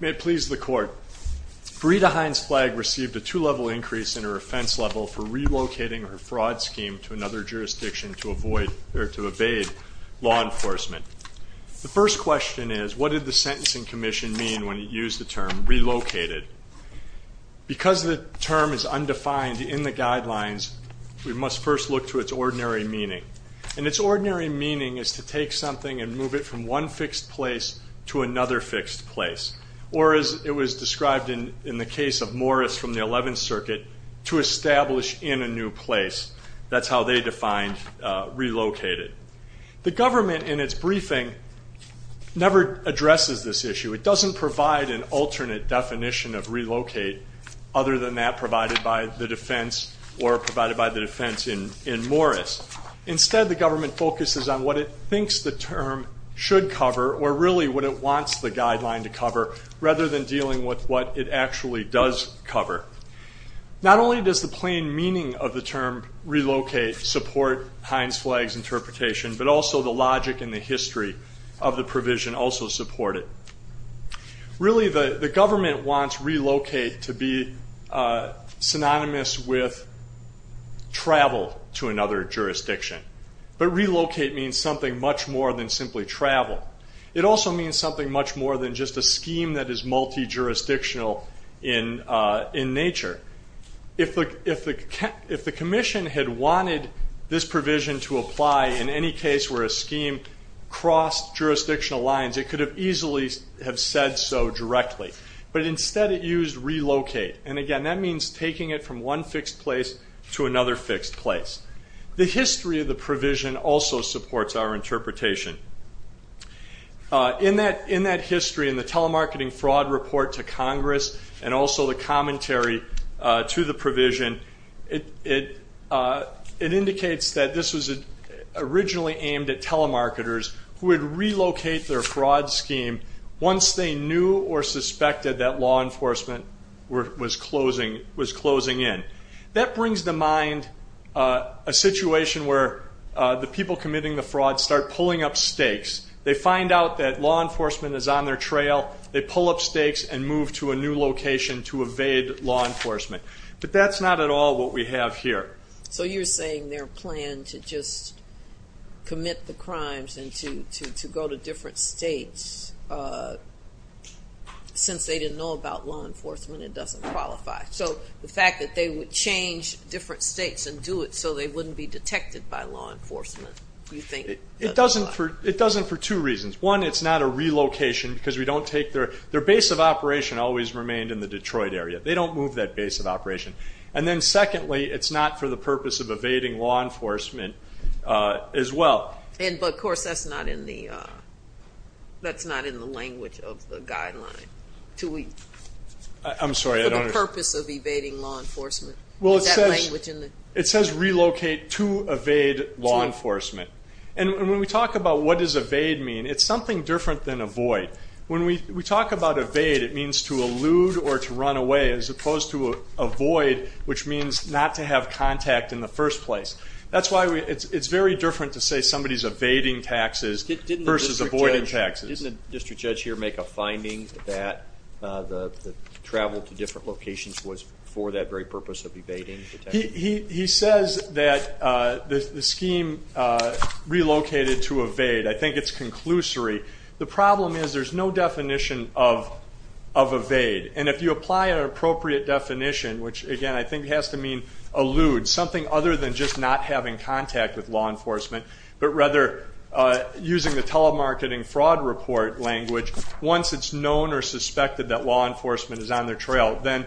May it please the Court, Verita Hines-Flagg received a two-level increase in her offense level for relocating her fraud scheme to another jurisdiction to avoid, or to evade, law enforcement. The first question is, what did the Sentencing Commission mean when it used the term relocated? Because the term is undefined in the guidelines, we must first look to its ordinary meaning. And its ordinary meaning is to take something and move it from one fixed place to another fixed place, or as it was described in the case of Morris from the Eleventh Circuit, to establish in a new place. That's how they defined relocated. The government in its briefing never addresses this issue. It doesn't provide an alternate definition of relocate other than that provided by the defense or provided by the defense in Morris. Instead, the government focuses on what it thinks the term should cover or really what it wants the guideline to cover rather than dealing with what it actually does cover. Not only does the plain meaning of the term relocate support Hines-Flagg's interpretation, but also the logic and the history of the provision also support it. Really the government wants relocate to be synonymous with travel to another jurisdiction. But relocate means something much more than simply travel. It also means something much more than just a scheme that is multi-jurisdictional in nature. If the commission had wanted this provision to apply in any case where a scheme crossed jurisdictional lines, it could have easily have said so directly. But instead it used relocate. And again, that means taking it from one fixed place to another fixed place. The history of the provision also supports our interpretation. In that history in the telemarketing fraud report to Congress and also the commentary to the provision, it indicates that this was originally aimed at telemarketers who would relocate their fraud scheme once they knew or suspected that law enforcement was closing in. That brings to mind a situation where the people committing the fraud start pulling up stakes. They find out that law enforcement is on their trail. They pull up stakes and move to a new location to evade law enforcement. But that's not at all what we have here. So you're saying their plan to just commit the crimes and to go to different states, since they didn't know about law enforcement, it doesn't qualify. So the fact that they would change different states and do it so they wouldn't be detected by law enforcement, do you think that's a lie? It doesn't for two reasons. One, it's not a relocation because we don't take their base of operation always remained in the Detroit area. They don't move that base of operation. And then secondly, it's not for the purpose of evading law enforcement as well. But of course, that's not in the language of the guideline, for the purpose of evading law enforcement. Is that language in there? It says relocate to evade law enforcement. And when we talk about what does evade mean, it's something different than avoid. When we talk about evade, it means to elude or to run away as opposed to avoid, which means not to have contact in the first place. That's why it's very different to say somebody's evading taxes versus avoiding taxes. Didn't the district judge here make a finding that the travel to different locations was for that very purpose of evading? He says that the scheme relocated to evade. I think it's conclusory. The problem is there's no definition of evade. And if you apply an appropriate definition, which again I think has to mean elude, something other than just not having contact with law enforcement, but rather using the telemarketing fraud report language, once it's known or suspected that law enforcement is on their trail, then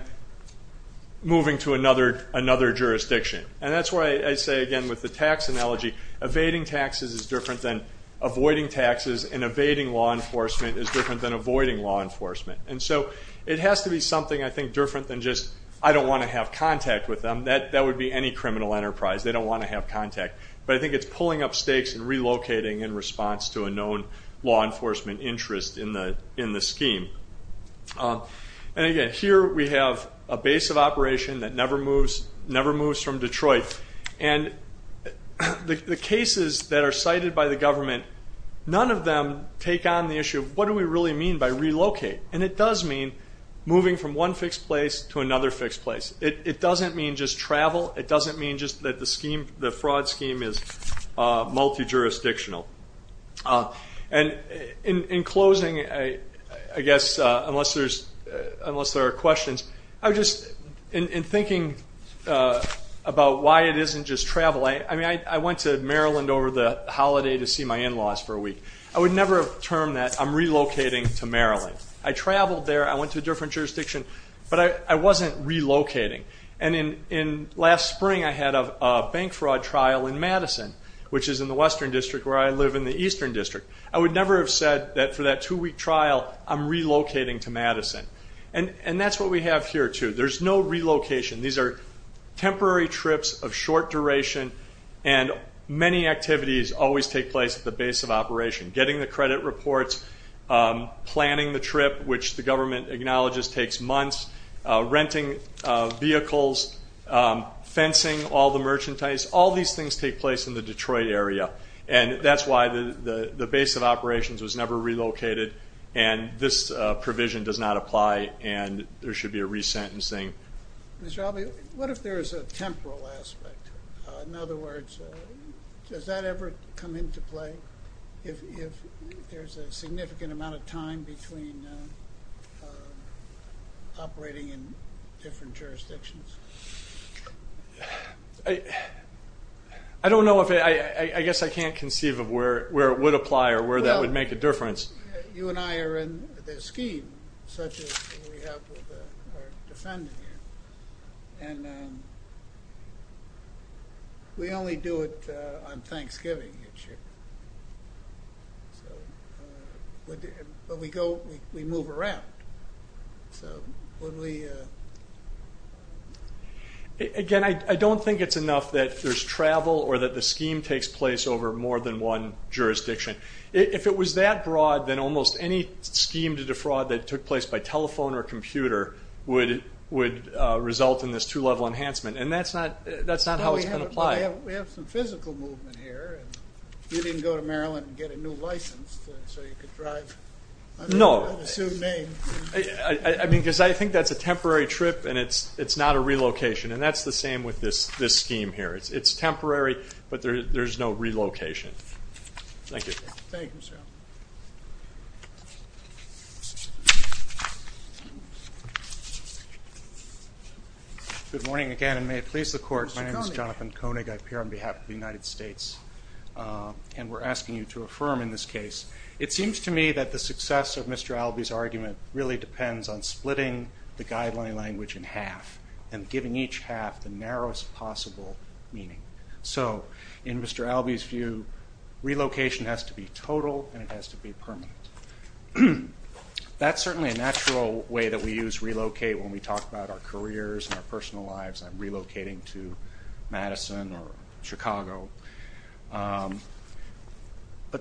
moving to another jurisdiction. And that's why I say again with the tax analogy, evading taxes is different than avoiding taxes and evading law enforcement is different than avoiding law enforcement. And so it has to be something I think different than just, I don't want to have contact with them. That would be any criminal enterprise. They don't want to have contact. But I think it's pulling up stakes and relocating in response to a known law enforcement interest in the scheme. And again, here we have a base of operation that never moves from Detroit. And the cases that are cited by the government, none of them take on the issue of what do we really mean by relocate? And it does mean moving from one fixed place to another fixed place. It doesn't mean just travel. It doesn't mean just that the fraud scheme is multi-jurisdictional. And in closing, I guess unless there are questions, I would just, in thinking about why it isn't just travel, I went to Maryland over the holiday to see my in-laws for a week. I would never have termed that I'm relocating to Maryland. I traveled there. I went to a different jurisdiction. But I wasn't relocating. And last spring I had a bank fraud trial in Madison, which is in the Western District where I live in the Eastern District. I would never have said that for that two-week trial, I'm relocating to Madison. And that's what we have here too. There's no relocation. These are temporary trips of short duration. And many activities always take place at the base of operation. Getting the credit reports, planning the trip, which the government acknowledges takes months, renting vehicles, fencing all the merchandise, all these things take place in the Detroit area. And that's why the base of operations was never relocated. And this provision does not apply. And there should be a resentencing. Mr. Albee, what if there is a temporal aspect? In other words, does that ever come into play if there's a significant amount of time between operating in different jurisdictions? I don't know. I guess I can't conceive of where it would apply or where that would make a difference. Well, you and I are in this scheme, such as we have with our defendant here. And we only do it on Thanksgiving. But we move around. Again, I don't think it's enough that there's travel or that the scheme takes place over more than one jurisdiction. If it was that broad, then almost any scheme to defraud that took place by telephone or computer would result in this two-level enhancement. And that's not how it's going to apply. We have some physical movement here. You didn't go to Maryland and get a new license so you could drive under the sued name. No. I mean, because I think that's a temporary trip and it's not a relocation. And that's the same with this scheme here. It's temporary, but there's no relocation. Thank you. Thank you, sir. Good morning again. And may it please the Court, my name is Jonathan Koenig. I appear on behalf of the United States. And we're asking you to affirm in this case. It seems to me that the success of Mr. Albee's argument really depends on splitting the guideline language in half and giving each half the narrowest possible meaning. So in Mr. Albee's view, relocation has to be total and it has to be permanent. That's certainly a natural way that we use relocate when we talk about our careers and our personal lives. I'm relocating to Madison or Chicago. But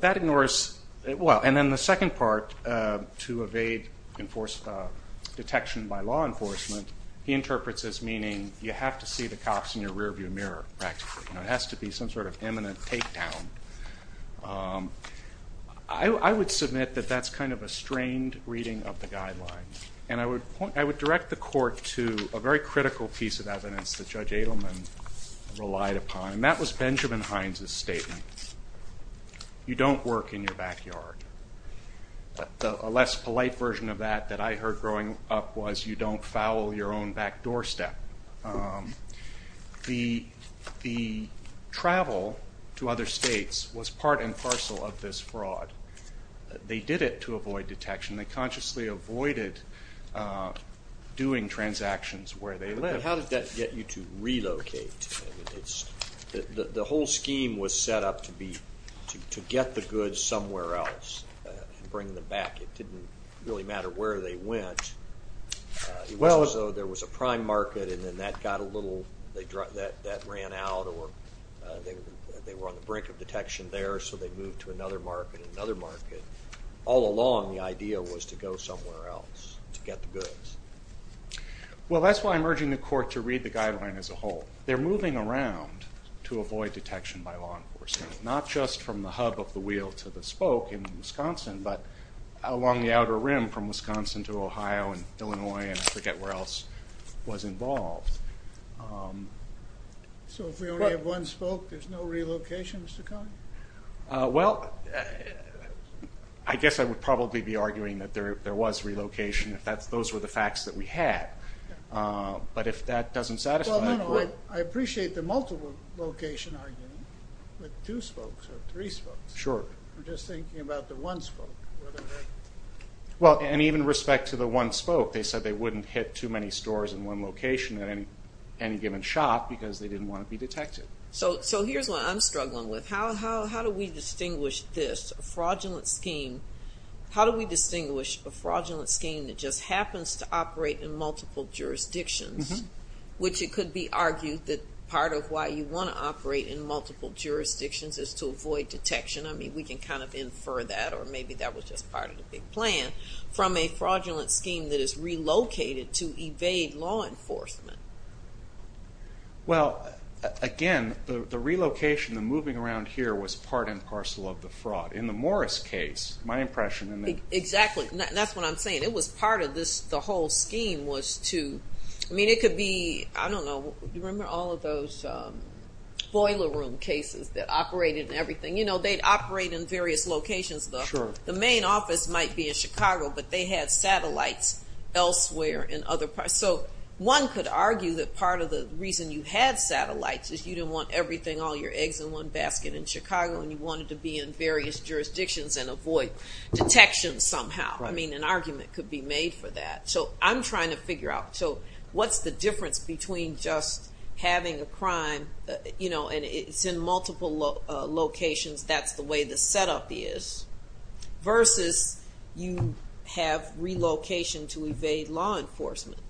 that ignores, well, and then the second part, to evade detection by law enforcement, he interprets as meaning you have to see the cops in your rearview mirror, practically. It has to be some sort of imminent takedown. I would submit that that's kind of a strained reading of the guidelines. And I would direct the Court to a very critical piece of evidence that Judge Adelman relied upon, and that was Benjamin Hines' statement. You don't work in your backyard. A less polite version of that that I heard growing up was you don't foul your own back doorstep. The travel to other states was part and parcel of this fraud. They did it to avoid detection. They consciously avoided doing transactions where they lived. How did that get you to relocate? The whole scheme was set up to get the goods somewhere else and bring them back. It didn't really matter where they went. It was as though there was a prime market and then that ran out or they were on the brink of detection there so they moved to another market and another market. All along the idea was to go somewhere else to get the goods. Well, that's why I'm urging the Court to read the guideline as a whole. They're moving around to avoid detection by law enforcement. Not just from the hub of the wheel to the spoke in Wisconsin, but along the outer rim from Wisconsin to Ohio and Illinois and I forget where else was involved. So if we only have one spoke, there's no relocation, Mr. Cohn? Well, I guess I would probably be arguing that there was relocation if those were the facts that we had. But if that doesn't satisfy the Court... I appreciate the multiple location argument with two spokes or three spokes. I'm just thinking about the one spoke. Well, and even with respect to the one spoke, they said they wouldn't hit too many stores in one location at any given shop because they didn't want to be detected. So here's what I'm struggling with. How do we distinguish this fraudulent scheme? How do we distinguish a fraudulent scheme that just happens to operate in multiple jurisdictions, which it could be argued that part of why you want to operate in multiple jurisdictions is to avoid detection. I mean, we can kind of infer that or maybe that was just part of the big plan, from a fraudulent scheme that is relocated to evade law enforcement. Well, again, the relocation, the moving around here was part and parcel of the fraud. In the Morris case, my impression... That's what I'm saying. It was part of the whole scheme was to... I mean, it could be... I don't know. Do you remember all of those boiler room cases that operated in everything? You know, they'd operate in various locations. The main office might be in Chicago, but they had satellites elsewhere in other parts. So one could argue that part of the reason you had satellites is you didn't want everything, all your eggs in one basket in Chicago, and you wanted to be in various jurisdictions and avoid detection somehow. I mean, an argument could be made for that. So I'm trying to figure out, so what's the difference between just having a crime, you know, and it's in multiple locations, that's the way the setup is, versus you have relocation to evade law enforcement?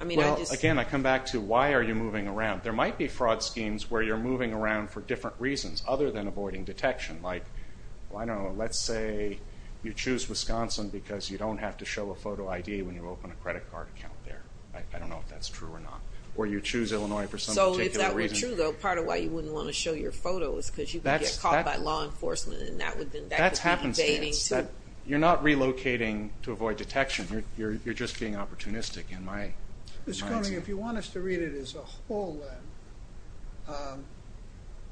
I mean, I just... Well, again, I come back to why are you moving around? There might be fraud schemes where you're moving around for different reasons other than avoiding detection. Like, I don't know, let's say you choose Wisconsin because you don't have to show a photo ID when you open a credit card account there. I don't know if that's true or not. Or you choose Illinois for some particular reason. So if that were true, though, part of why you wouldn't want to show your photo is because you could get caught by law enforcement, and that would be evading, too. That's happenstance. You're not relocating to avoid detection. You're just being opportunistic in my... Mr. Koenig, if you want us to read it as a whole, then,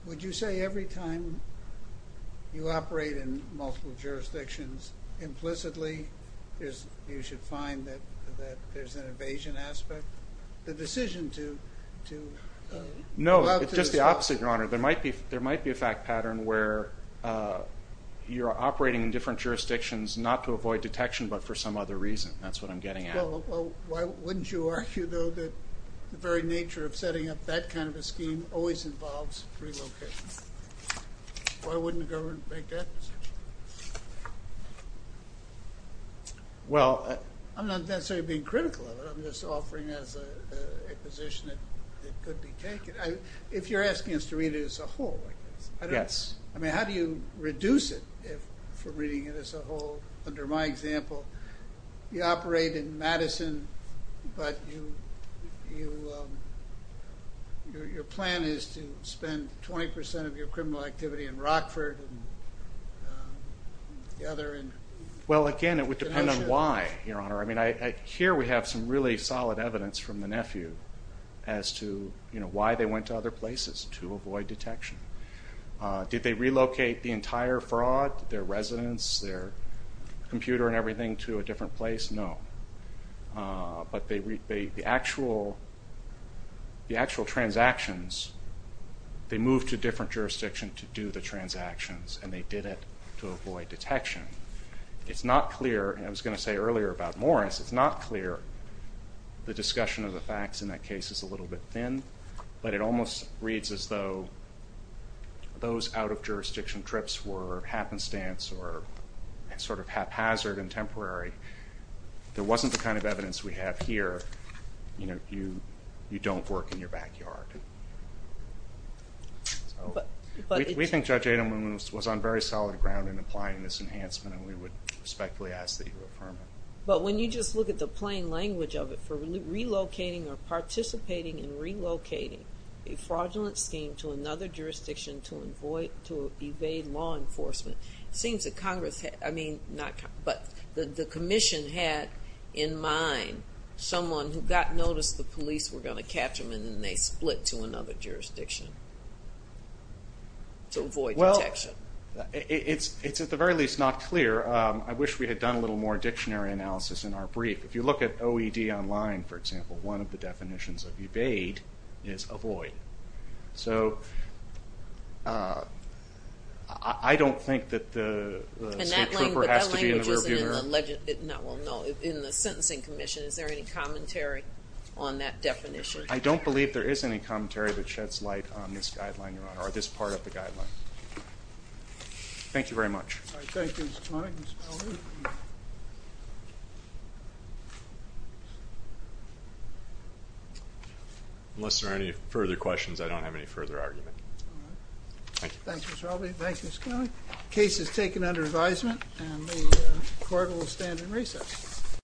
would you say every time you operate in multiple jurisdictions, implicitly, you should find that there's an evasion aspect? The decision to... No, it's just the opposite, Your Honor. There might be a fact pattern where you're operating in different jurisdictions not to avoid detection, but for some other reason. That's what I'm getting at. Well, why wouldn't you argue, though, that the very nature of setting up that kind of a scheme always involves relocation? Why wouldn't the government make that decision? Well... I'm not necessarily being critical of it. I'm just offering as a position that it could be taken. If you're asking us to read it as a whole, I guess... Yes. How do you reduce it from reading it as a whole, under my example? You operate in Madison, but your plan is to spend 20% of your criminal activity in Rockford and the other in... Well, again, it would depend on why, Your Honor. Here we have some really solid evidence from the nephew as to why they went to other places to avoid detection. Did they relocate the entire fraud, their residence, their computer and everything, to a different place? No. But the actual transactions, they moved to a different jurisdiction to do the transactions and they did it to avoid detection. It's not clear, and I was going to say earlier about Morris, it's not clear the discussion of the facts in that case is a little bit thin, but it almost reads as though those out-of-jurisdiction trips were happenstance or sort of haphazard and temporary. There wasn't the kind of evidence we have here, you know, you don't work in your backyard. We think Judge Adelman was on very solid ground in applying this enhancement and we would respectfully ask that you affirm it. But when you just look at the plain language of it, for relocating or participating in relocating a fraudulent scheme to another jurisdiction to evade law enforcement, it seems that Congress, I mean, not Congress, but the Commission had in mind that someone who got noticed the police were going to catch them and then they split to another jurisdiction to avoid detection. Well, it's at the very least not clear. I wish we had done a little more dictionary analysis in our brief. If you look at OED online, for example, one of the definitions of evade is avoid. So I don't think that the state trooper has to be in the rear view mirror. Well, no, in the Sentencing Commission, is there any commentary on that definition? I don't believe there is any commentary that sheds light on this guideline, Your Honor, or this part of the guideline. Thank you very much. All right, thank you, Ms. Connolly. Unless there are any further questions, I don't have any further argument. All right. Thank you. Thank you, Ms. Connolly. The case is taken under advisement and the court will stand in recess.